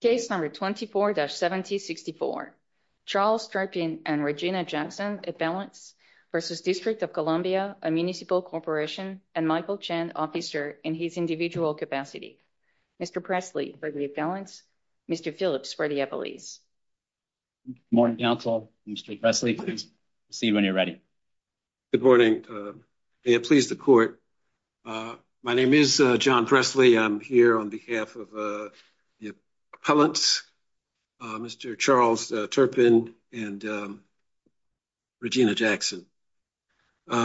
Case number 24-7064. Charles Turpin and Regina Jackson at balance versus District of Columbia, a municipal corporation, and Michael Chen, officer, in his individual capacity. Mr. Presley, for the balance. Mr. Phillips, for the appellees. Morning, counsel. Mr. Presley, please. See you when you're ready. Good morning. May it please the court. My name is John Presley. I'm here on behalf of the appellants, Mr. Charles Turpin and Regina Jackson. There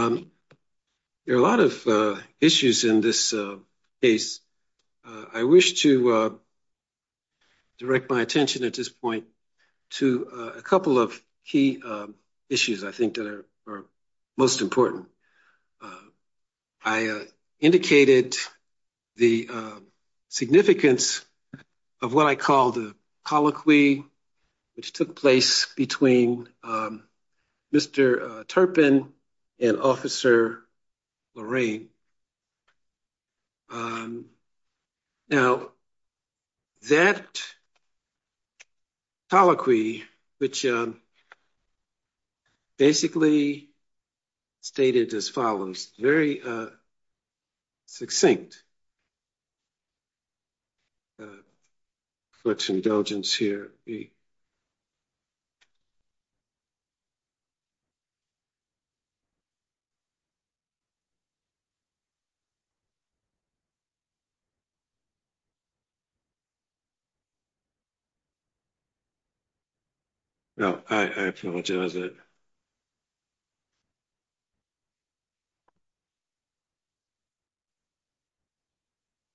are a lot of issues in this case. I wish to direct my attention at this point to a couple of key issues, I think, that are most important. I indicated the significance of what I call the colloquy which took place between Mr. Turpin and Officer Lorraine. Now, that colloquy, which basically stated as follows, very succinct, with some indulgence here. Now, I apologize.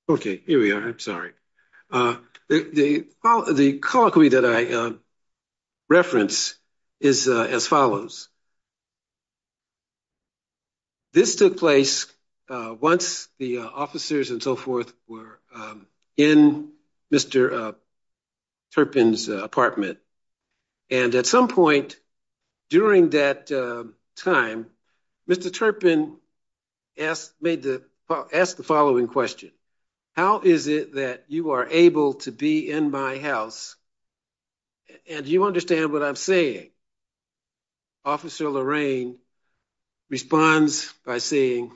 Okay, here we are. I'm sorry. The colloquy that I reference is as follows. This took place once the officers and so forth were in Mr. Turpin's apartment, and at some point during that time, Mr. Turpin asked the following question, how is it that you are able to be in my house and you understand what I'm saying? Officer Lorraine responds by saying,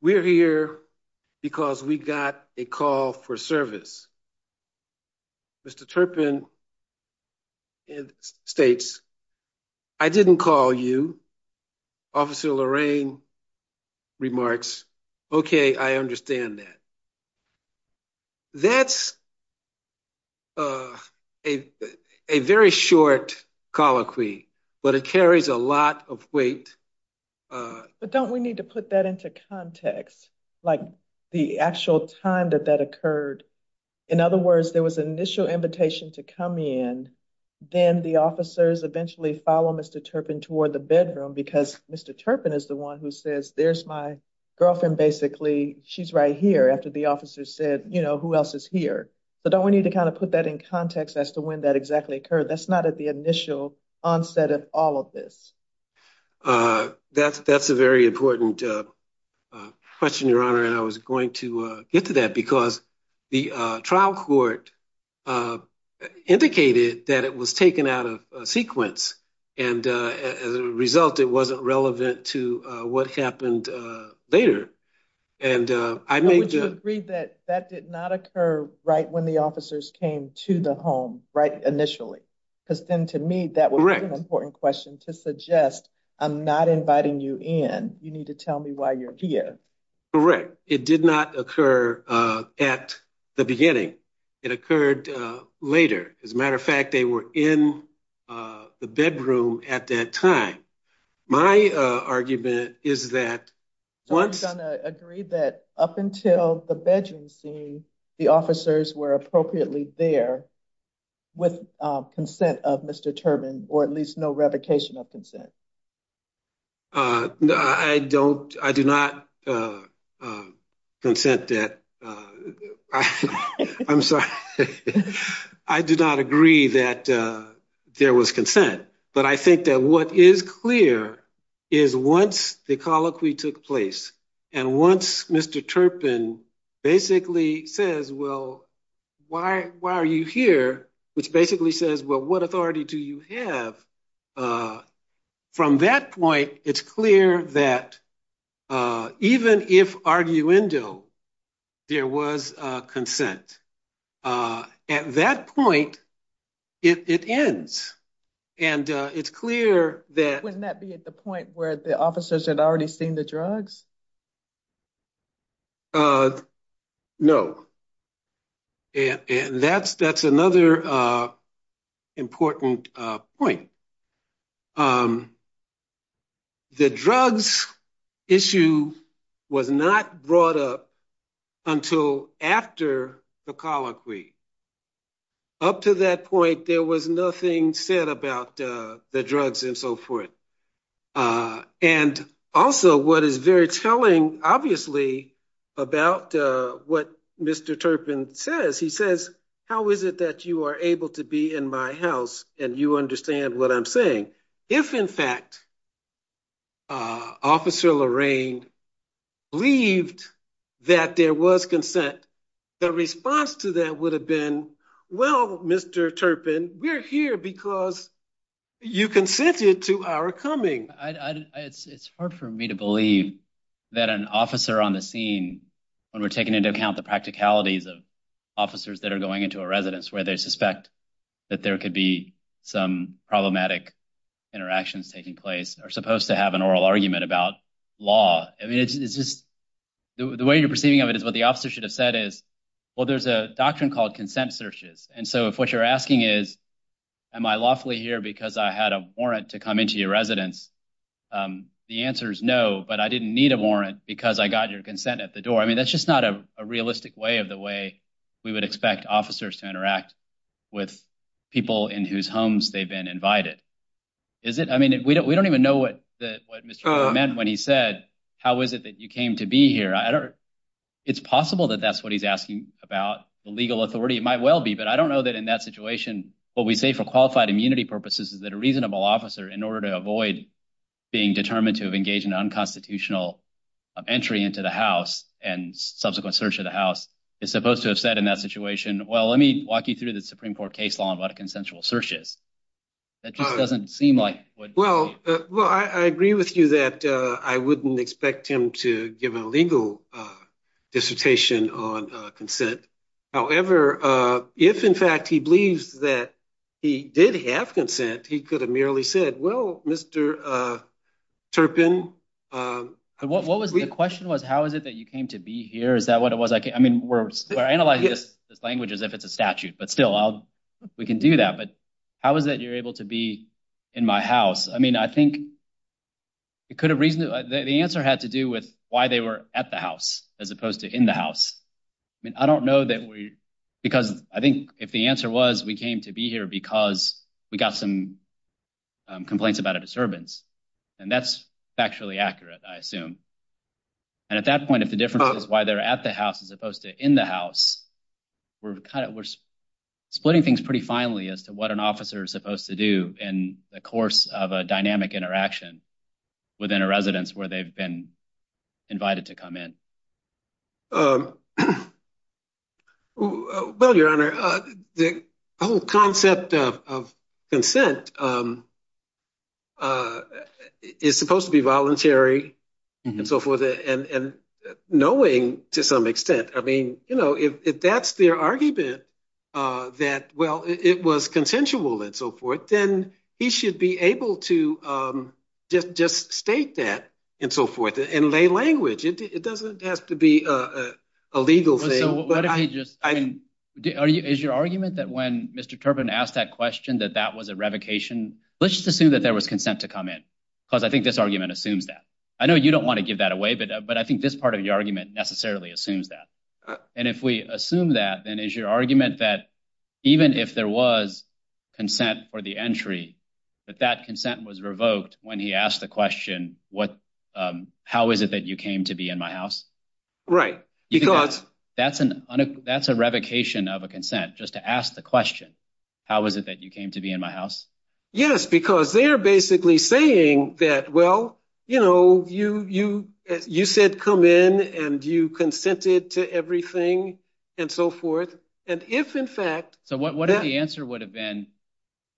we're here because we got a call for service. Mr. Turpin states, I didn't call you. Officer Lorraine remarks, okay, I understand that. That's a very short colloquy, but it carries a lot of weight. But don't we need to put that into context, like the actual time that that occurred? In other words, there was an initial invitation to come in, then the officers eventually follow Mr. Turpin toward the bedroom because Mr. Turpin is the one who says, there's my girlfriend, basically, she's right here after the officer said, you know, who else is here? So don't we need to kind of put that in context as to when that exactly occurred? That's not at the initial onset of all of this. That's a very important question, Your Honor, and I was going to get to that because the trial court indicated that it was taken out of sequence and as a result, it wasn't relevant to what happened later. And would you agree that that did not occur right when the officers came to the home, right initially? Because then to me, that was an important question to suggest, I'm not inviting you in, you need to tell me why you're here. Correct. It did not occur at the beginning. It occurred later. As a matter of fact, they were in the bedroom at that time. My argument is that once... I'm going to agree that up until the bedroom scene, the officers were appropriately there. With consent of Mr. Turpin, or at least no revocation of consent. I do not consent that. I'm sorry. I do not agree that there was consent, but I think that what is clear is once the colloquy took place, and once Mr. Turpin basically says, well, why are you here? Which basically says, well, what authority do you have? From that point, it's clear that even if arguendo, there was consent. At that point, it ends. And it's clear that... Wouldn't that be at the point where the officers had already seen the drugs? No. And that's another important point. The drugs issue was not brought up until after the colloquy. Up to that point, there was nothing said about the drugs and so forth. And also, what is very telling, obviously, about what Mr. Turpin says, he says, how is it that you are able to be in my house and you understand what I'm saying? If, in fact, Officer Lorraine believed that there was consent, the response to that would have been, well, Mr. Turpin, we're here because you consented to our coming. It's hard for me to believe that an officer on the scene, when we're taking into account the practicalities of officers that are going into a residence where they suspect that there could be some problematic interactions taking place, are supposed to have an oral argument about law. The way you're perceiving of it is what the officer should have said is, well, there's a doctrine called consent searches. And so if what you're asking is, am I lawfully here because I had a warrant to come into your residence? The answer is no, but I didn't need a warrant because I got your consent at the door. I mean, that's just not a realistic way of the way we would expect officers to interact with people in whose homes they've been invited. We don't even know what Mr. Turpin meant when he said, how is it that you came to be here? It's possible that that's what he's asking about the legal authority. It might well be, but I don't know that in that situation, what we say for qualified immunity purposes is that a reasonable officer, in order to avoid being determined to have engaged in unconstitutional entry into the house and subsequent search of the house, is supposed to have said in that situation, well, let me walk you through the Supreme Court case law and what a consensual search is. That just doesn't seem like what- Well, I agree with you that I wouldn't expect him to give a legal dissertation on consent. However, if in fact he believes that he did have consent, he could have merely said, well, Mr. Turpin- The question was, how is it that you came to be here? Is that what it was? I mean, we're analyzing this language as if it's a statute, but still, we can do that. But is that you're able to be in my house? I mean, I think the answer had to do with why they were at the house as opposed to in the house. I mean, I don't know that we- Because I think if the answer was we came to be here because we got some complaints about a disturbance, and that's factually accurate, I assume. And at that point, if the difference is why they're at the house as opposed to in the house, we're splitting things pretty finely as to what an officer is supposed to do in the course of a dynamic interaction within a residence where they've been invited to come in. Well, Your Honor, the whole concept of consent is supposed to be voluntary and so forth, and knowing to some extent. I mean, if that's their argument that, well, it was consensual and so forth, then he should be able to just state that and so forth and lay language. It doesn't have to be a legal thing. So what if he just- Is your argument that when Mr. Turpin asked that question, that that was a revocation? Let's just assume that there was consent to come in, because I think this argument assumes that. I know you don't want to give that away, but I think this part of your argument necessarily assumes that. And if we assume that, then is your argument that even if there was consent for the entry, that that consent was revoked when he asked the question, how is it that you came to be in my house? Right, because- That's a revocation of a consent, just to ask the question, how is it that you came to be in my house? Yes, because they are basically saying that, well, you said come in and you consented to everything and so forth. And if in fact- So what if the answer would have been,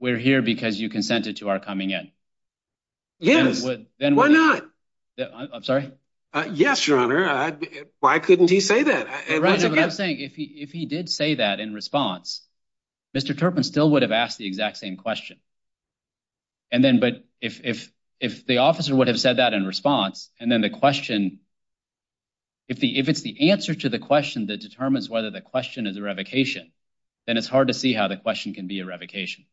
we're here because you consented to our coming in? Yes, why not? I'm sorry? Yes, your honor. Why couldn't he say that? Right, so what I'm saying, if he did say that in response, Mr. Turpin still would have asked the exact same question. And then, but if the officer would have said that in response, and then the question, if it's the answer to the question that determines whether the question is a revocation, then it's hard to see how the question can be a revocation.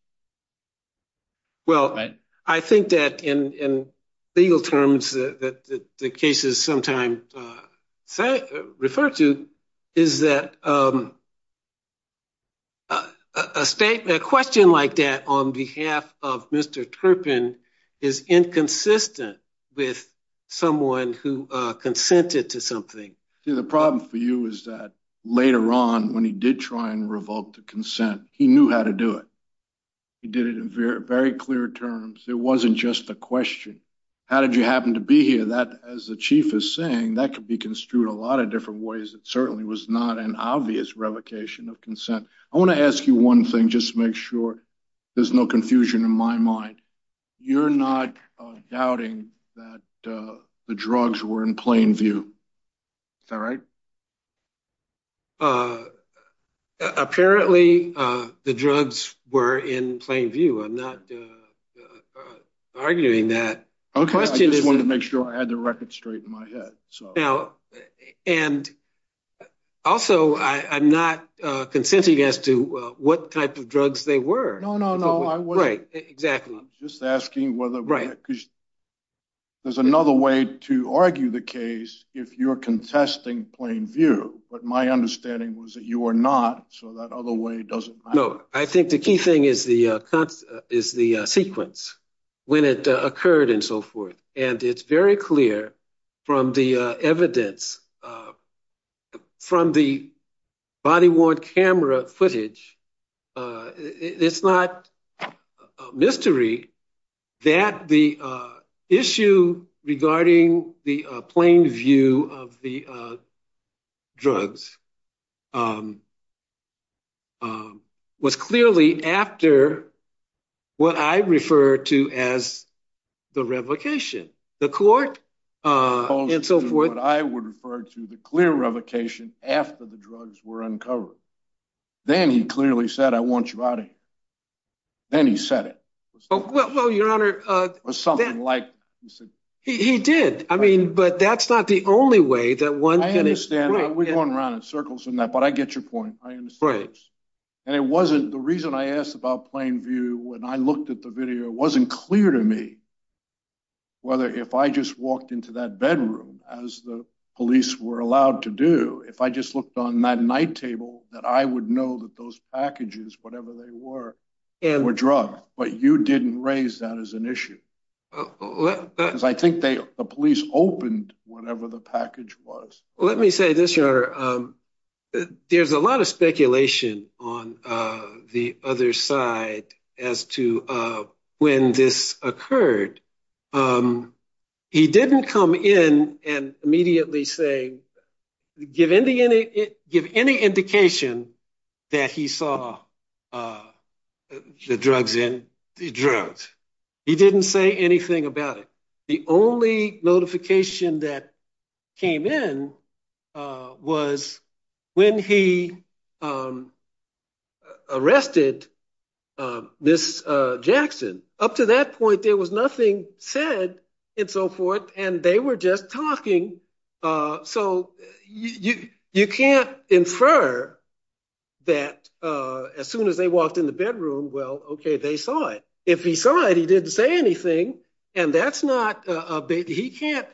Well, I think that in legal terms that the cases sometimes refer to is that a statement, a question like that on behalf of Mr. Turpin is inconsistent with someone who consented to something. See, the problem for you is that later on when he did try and revoke the consent, he knew how to do it. He did it in very clear terms. It wasn't just a question. How did you happen to be here? That, as the chief is saying, that could be construed a lot of ways. It certainly was not an obvious revocation of consent. I want to ask you one thing, just to make sure there's no confusion in my mind. You're not doubting that the drugs were in plain view. Is that right? Apparently, the drugs were in plain view. I'm not arguing that. Okay, I just wanted to make sure I had the record straight in my head. Now, and also, I'm not consenting as to what type of drugs they were. No, no, no. I was just asking whether there's another way to argue the case if you're contesting plain view. But my understanding was that you are not, so that other way doesn't matter. No, I think the key thing is the sequence, when it occurred and so forth. And it's very clear from the evidence, from the body-worn camera footage, it's not a mystery that the issue regarding the plain view of the drugs was clearly after what I refer to as the revocation. The court, and so forth. I would refer to the clear revocation after the drugs were uncovered. Then he clearly said, I want you out of here. Then he said it. Well, your honor. He did. I mean, but that's not the only way that one can- I understand. We're going around in circles in that, but I get your point. I understand. And it wasn't, the reason I asked about plain view, when I looked at the video, it wasn't clear to me whether if I just walked into that bedroom, as the police were allowed to do, if I just looked on that night table, that I would know that those packages, whatever they were, were drugs. But you didn't raise that as an issue. Because I think the police opened whatever the package was. Let me say this, your honor. There's a lot of speculation on the other side as to when this occurred. He didn't come in and immediately say, give any indication that he saw the drugs in. The drugs. He didn't say anything about it. The only notification that came in was when he arrested Ms. Jackson. Up to that point, there was nothing said and so forth, and they were just talking. So you can't infer that as soon as they walked in the bedroom, well, okay, they saw it. If he saw it, he didn't say anything, and that's not, you can't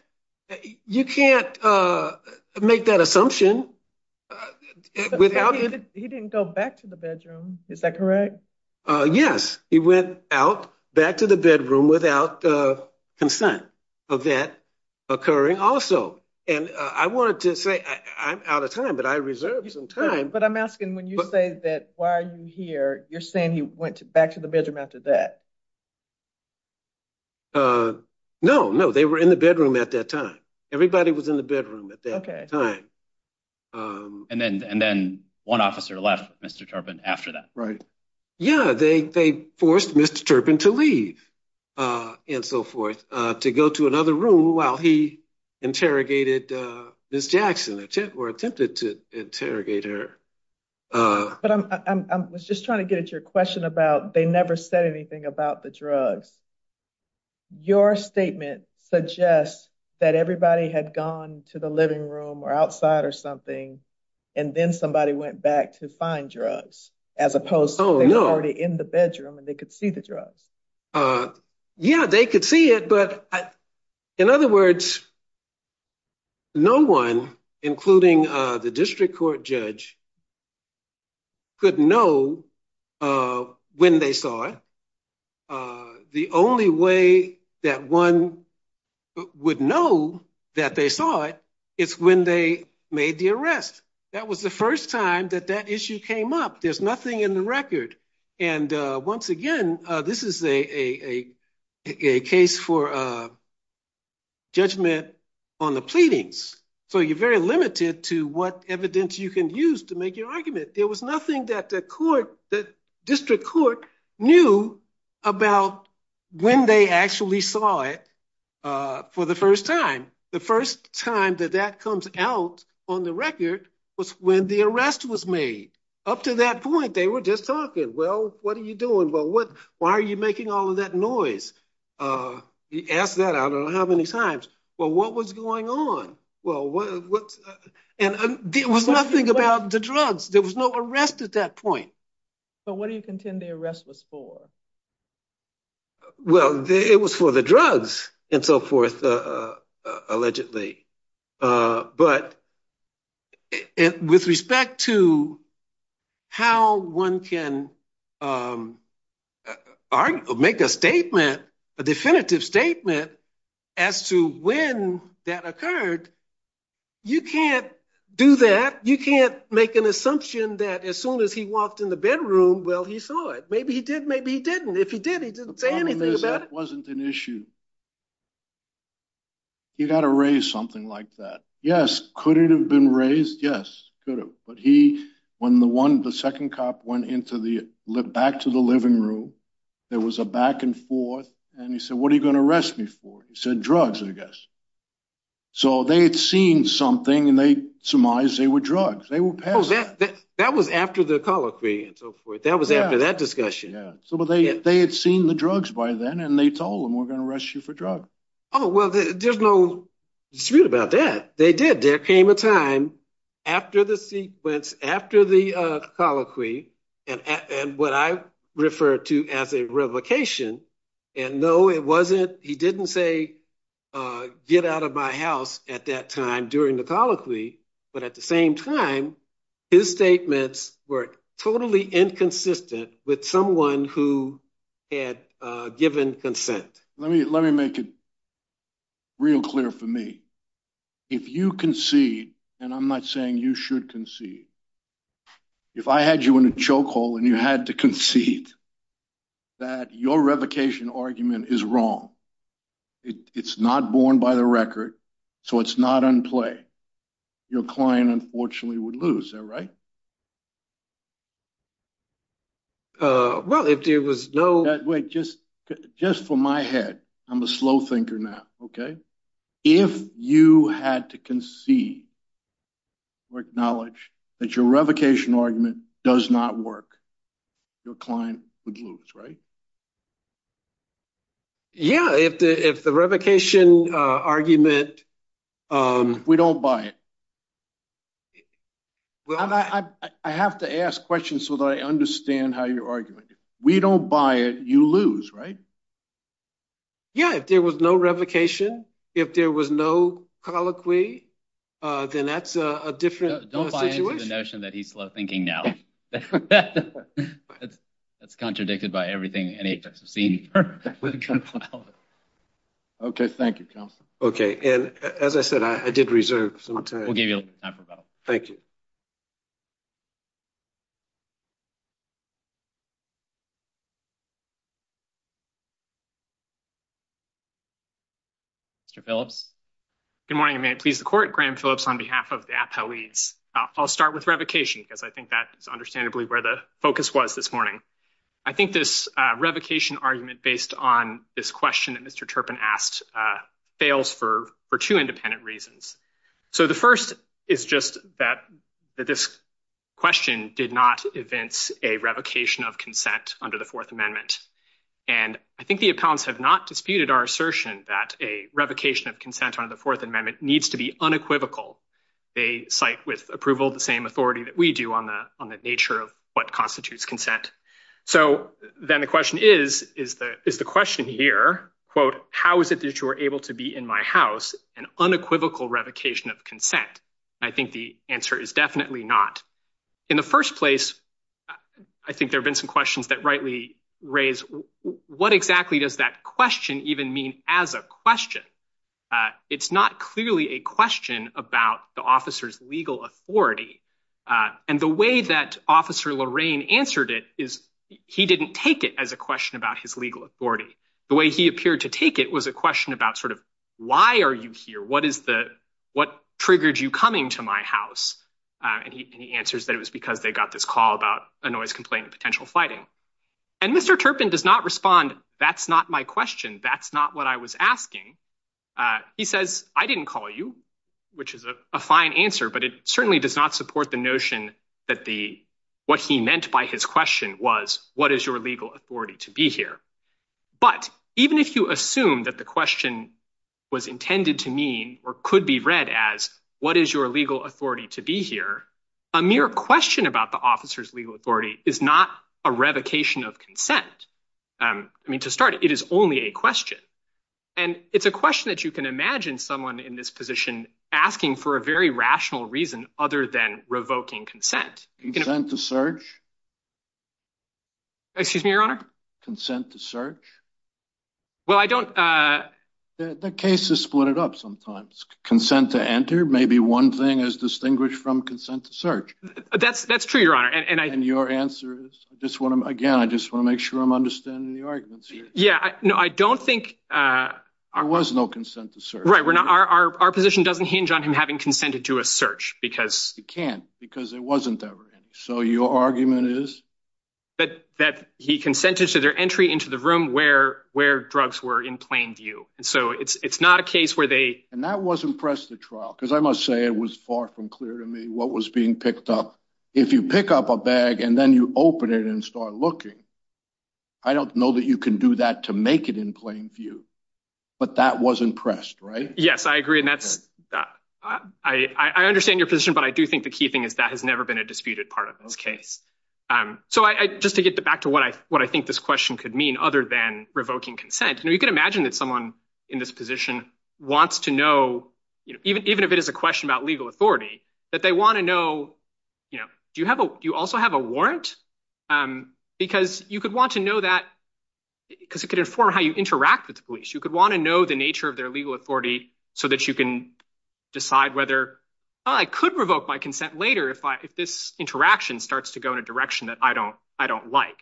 make that assumption. He didn't go back to the bedroom, is that correct? Yes, he went out back to the bedroom without consent of that occurring also. And I wanted to say, I'm out of time, but I reserved some time. But I'm asking, when you say that, you're saying he went back to the bedroom after that? No, no, they were in the bedroom at that time. Everybody was in the bedroom at that time. And then one officer left Mr. Turpin after that. Right. Yeah, they forced Mr. Turpin to leave and so forth to go to another room while he interrogated Ms. Jackson or attempted to interrogate her. But I was just trying to get at your question about they never said anything about the drugs. Your statement suggests that everybody had gone to the living room or outside or something, and then somebody went back to find drugs, as opposed to already in the bedroom, and they could see the drugs. Yeah, they could see it. But in other words, no one, including the district court judge, could know when they saw it. The only way that one would know that they saw it, is when they made the arrest. That was the first time that that issue came up. There's nothing in the record. And once again, this is a case for a judgment on the pleadings. So you're very limited to what evidence you can use to make your argument. There was nothing that the district court knew about when they actually saw it for the first time. The first time that that comes out on the record was when the arrest was made. Up to that point, they were just talking, well, what are you doing? Well, why are you making all that noise? He asked that I don't know how many times. Well, what was going on? And there was nothing about the drugs. There was no arrest at that point. But what do you contend the arrest was for? Well, it was for the drugs and so forth, allegedly. But with respect to how one can make a statement, a definitive statement, as to when that occurred, you can't do that. You can't make an assumption that as soon as he walked in the bedroom, well, he saw it. Maybe he did, maybe he didn't. If he did, he didn't say anything about it. That wasn't an issue. You got to raise something like that. Yes, could it have been raised? Yes, could have. But when the second cop went back to the living room, there was a back and forth, and he said, what are you going to arrest me for? He said, drugs, I guess. So they had seen something, and they surmised they were drugs. They were passing. That was after the colloquy and so forth. That was after that discussion. Yeah. So they had seen the drugs by then, and they told him, we're going to arrest you for drugs. Oh, well, there's no dispute about that. They did. There came a time after the sequence, after the colloquy, and what I refer to as a revocation, and no, it wasn't. He didn't say, get out of my house at that time during the colloquy. But at the same time, his statements were totally inconsistent with someone who had given consent. Let me make it real clear for me. If you concede, and I'm not saying you should concede, if I had you in a chokehold and you had to concede that your revocation argument is wrong, it's not born by the record, so it's not on play, your client unfortunately would lose. Is that right? Well, if there was no- Wait, just for my head, I'm a slow thinker now, okay? If you had to concede or acknowledge that your revocation argument does not work, your client would lose, right? Yeah. If the revocation argument- We don't buy it. Well, I have to ask questions so that I understand how you're arguing. We don't buy it, you lose, right? Yeah, if there was no revocation, if there was no colloquy, then that's a different situation. Don't buy into the notion that he's slow thinking now. That's contradicted by everything any of us have seen. Okay, thank you, Counselor. Okay, and as I said, I did reserve some time. Thank you. Mr. Phillips. Good morning, and may it please the Court, Graham Phillips on behalf of the AAPA leads. I'll start with revocation because I think that is understandably where the focus was this morning. I think this revocation argument based on this question that Mr. Turpin asked fails for two independent reasons. So the first is just that this question did not evince a revocation of consent under the Fourth Amendment. And I think the appellants have not disputed our assertion that a revocation of consent under the Fourth Amendment needs to be unequivocal. They cite with approval the same authority that we do on the nature of what constitutes consent. So then the question is, is the question here, quote, how is it that you are able to be in my house, an unequivocal revocation of consent? I think the answer is definitely not. In the first place, I think there have been some questions that rightly raise what exactly does that question even mean as a question? It's not clearly a question about the officer's legal authority. And the way that Officer Lorraine answered it is he didn't take it as a question about his legal authority. The way he appeared to take it was a question about sort of why are you here? What is the what triggered you coming to my house? And he answers that it was because they got this call about a noise complaint, potential fighting. And Mr. Turpin does not respond. That's not my question. That's not what I was asking. He says, I didn't call you, which is a fine answer, but it certainly does not support the notion that the what he meant by his question was, what is your legal authority to be here? But even if you assume that the question was intended to mean or could be read as what is your legal authority to be here, a mere question about the officer's legal authority is not a revocation of consent. I mean, to start, it is only a question. And it's a question that you can imagine someone in this position asking for a very rational reason other than revoking consent. Consent to search. Excuse me, Your Honor. Consent to search. Well, I don't. The case is split up sometimes. Consent to enter. Maybe one thing is distinguished from consent to search. That's that's true, Your Honor. And your answer is this one. Again, I just want to make sure I'm understanding the arguments. Yeah. No, I don't think I was no consent to search. Right. We're our position doesn't hinge on him having consented to a search because he can't because it wasn't ever. So your argument is that that he consented to their entry into the room where where drugs were in plain view. And so it's not a case where they and that was impressed the trial, because I must say it was far from clear to me what was being picked up. If you pick up a bag and then you open it and start looking. I don't know that you can do that to make it in plain view, but that was impressed. Right. Yes, I agree. And that's I understand your position. But I do think the key thing is that has never been a disputed part of this case. So I just to get back to what I what I think this question could mean other than revoking consent. You can imagine that someone in this position wants to know, even if it is a question about legal authority, that they want to know, you know, do you have you also have a warrant? Because you could want to know that because it could inform how you interact with the police. You could want to know the nature of their legal authority so that you can decide whether I could revoke my consent later if I if this interaction starts to go in a direction that I don't I don't like.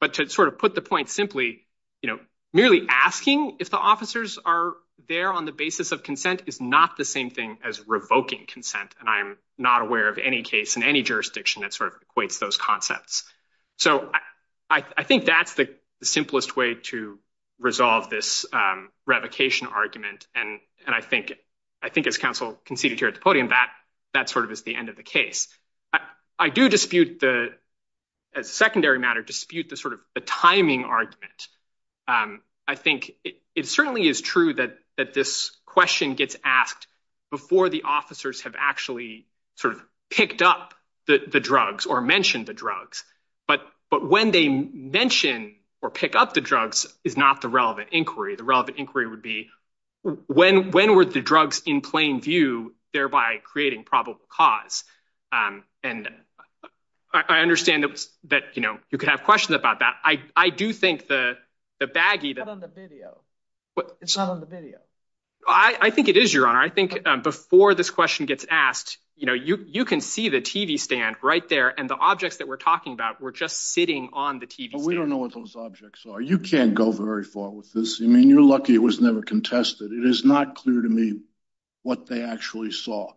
But to sort of put the point simply, you know, merely asking if the officers are there on the basis of consent is not the same thing as revoking consent. And I'm not aware of any case in any jurisdiction that sort of equates those concepts. So I think that's the simplest way to resolve this revocation argument. And and I think I think as counsel conceded here at the podium that that sort of is the end of the case. I do dispute the secondary matter dispute the sort of the timing argument. I think it certainly is true that that this question gets asked before the officers have actually sort of picked up the drugs or mentioned the drugs. But but when they mention or pick up the drugs is not the relevant inquiry. The relevant inquiry would be when when were the drugs in plain view, thereby creating probable cause? And I understand that that, you know, you could have questions about that. I do think the the baggie that on the video, it's not on the video. I think it is your honor. I think before this question gets asked, you know, you you can see the TV stand right there. And the objects that we're talking about were just sitting on the TV. We don't know what those objects are. You can't go very far with this. I mean, you're lucky it was never contested. It is not clear to me what they actually saw,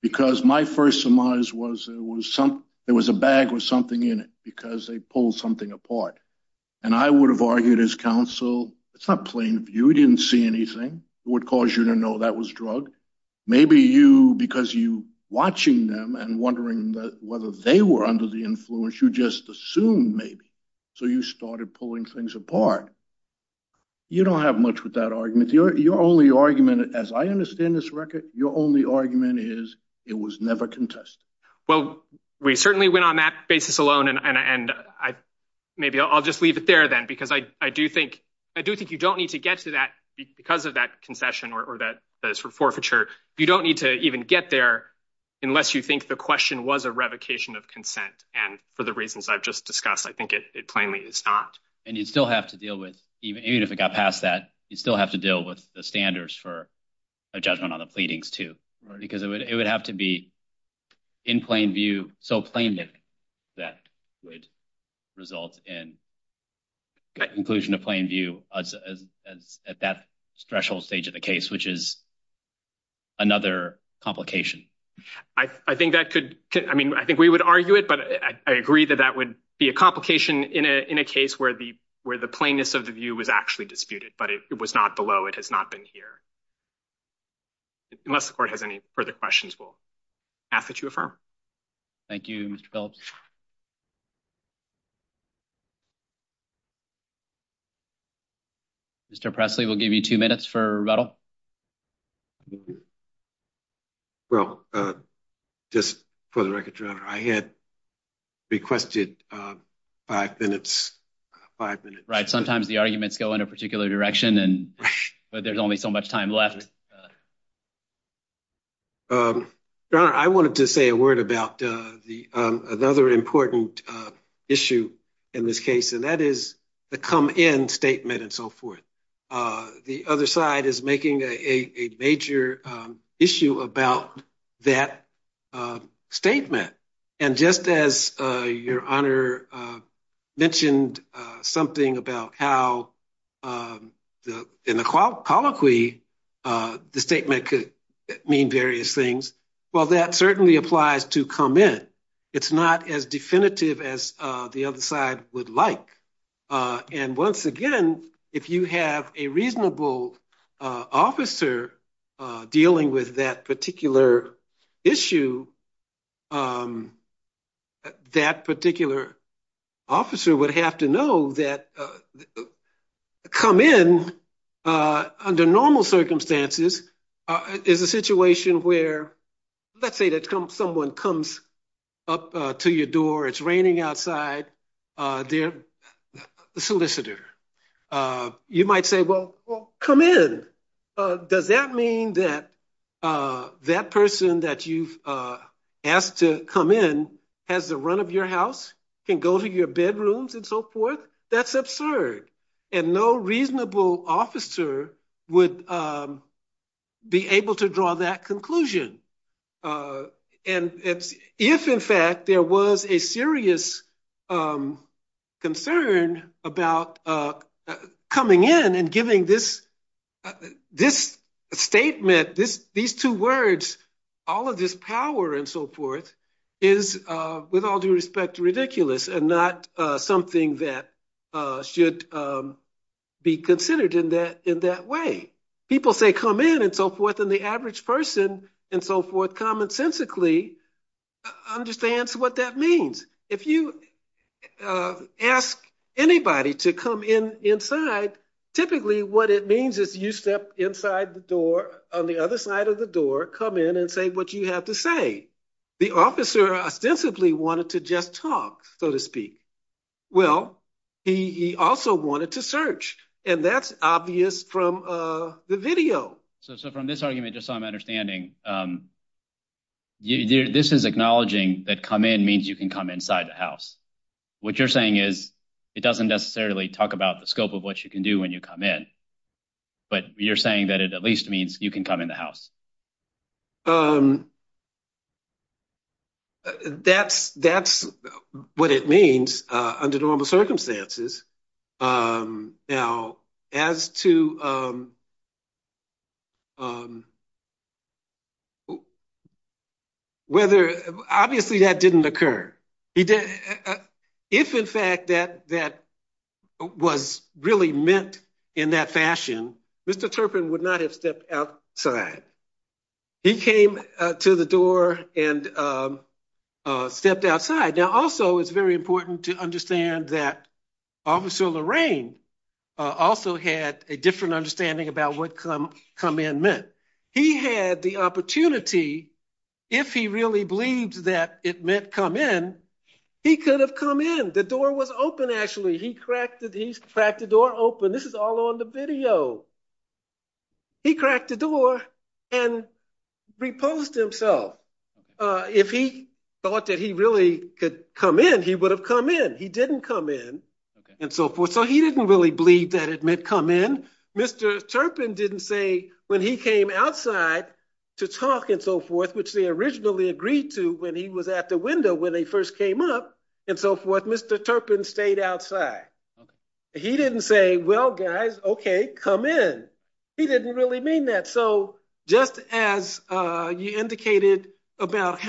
because my first surmise was it was some it was a bag with something in it because they pulled something apart. And I would have argued as counsel, it's not plain view. We didn't see anything. It would cause you to know that was drug. Maybe you because you watching them and wondering whether they were under the influence, you just assumed maybe. So you started pulling things apart. You don't have much with that argument. Your only argument, as I understand this record, your only argument is it was never contested. Well, we certainly went on that basis alone. And I maybe I'll just leave it there then, because I do think I do think you don't need to get to that because of that concession or that forfeiture. You don't need to even get there unless you think the question was a revocation of consent. And for the reasons I've just discussed, I think it plainly is not. And you still have to deal with even if it got past that, you still have to deal with the standards for a judgment on the pleadings, too, because it would have to be in plain view. So plain that that would result in inclusion of plain view as at that threshold stage of the case, which is another complication. I think that could I mean, I think we would argue it, but I agree that that would be a complication in a case where the where the plainness of the view was actually disputed, but it was not below. It has not been here. Unless the court has any further questions, we'll ask that you affirm. Thank you, Mr. Phillips. Mr. Presley will give you two minutes for rebuttal. Well, just for the record, your honor, I had requested five minutes, five minutes. Sometimes the arguments go in a particular direction and there's only so much time left. I wanted to say a word about the another important issue in this case, and that is the come in statement and so forth. The other side is making a major issue about that statement. And just as your honor mentioned something about how in the colloquy, the statement could mean various things. Well, that certainly applies to come in. It's not as definitive as the other side would like. And once again, if you have a reasonable officer dealing with that particular issue, that particular officer would have to know that come in under normal circumstances is a situation where, let's say that someone comes up to your door, it's raining outside, their solicitor, you might say, well, come in. Does that mean that that person that you've asked to come in has the run of your house, can go to your bedrooms and so forth? That's absurd. And no reasonable officer would be able to draw that conclusion. And if in fact there was a serious concern about coming in and giving this statement, these two words, all of this power and so forth is, with all due respect, ridiculous and not something that should be considered in that way. People say come in and so forth, and the average person and so forth commonsensically understands what that means. If you ask anybody to come in inside, typically what it means is you step inside the door on the other side of the door, come in and say what you have to say. The officer ostensibly wanted to just talk, so to speak. Well, he also wanted to search, and that's obvious from the video. So from this argument, just so I'm understanding, this is acknowledging that come in means you can come inside the house. What you're saying is it doesn't necessarily talk about the scope of what you can do when you come in, but you're saying that it at least means you can come in the house. That's what it means under normal circumstances. Now, as to whether, obviously that didn't occur. If in fact that was really meant in that fashion, Mr. Turpin would not have stepped outside. He came to the door and stepped outside. Now, also it's very important to understand that Officer Lorraine also had a different understanding about what come in meant. He had the opportunity, if he really believed that it meant come in, he could have come in. The door was open, actually. He cracked the door open. This is all on the video. He cracked the door and reposed himself. If he thought that he really could come in, he would have come in. He didn't come in, and so forth. So he didn't really believe that it come in. Mr. Turpin didn't say when he came outside to talk, and so forth, which they originally agreed to when he was at the window when they first came up, and so forth. Mr. Turpin stayed outside. He didn't say, well, guys, okay, come in. He didn't really mean that. So just as you indicated about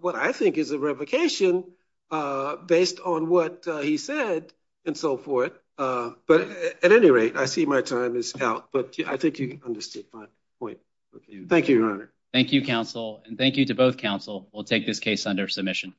what I think is a revocation based on what he said, and so forth. At any rate, I see my time is out, but I think you understood my point. Thank you, Your Honor. Thank you, counsel, and thank you to both counsel. We'll take this case under submission.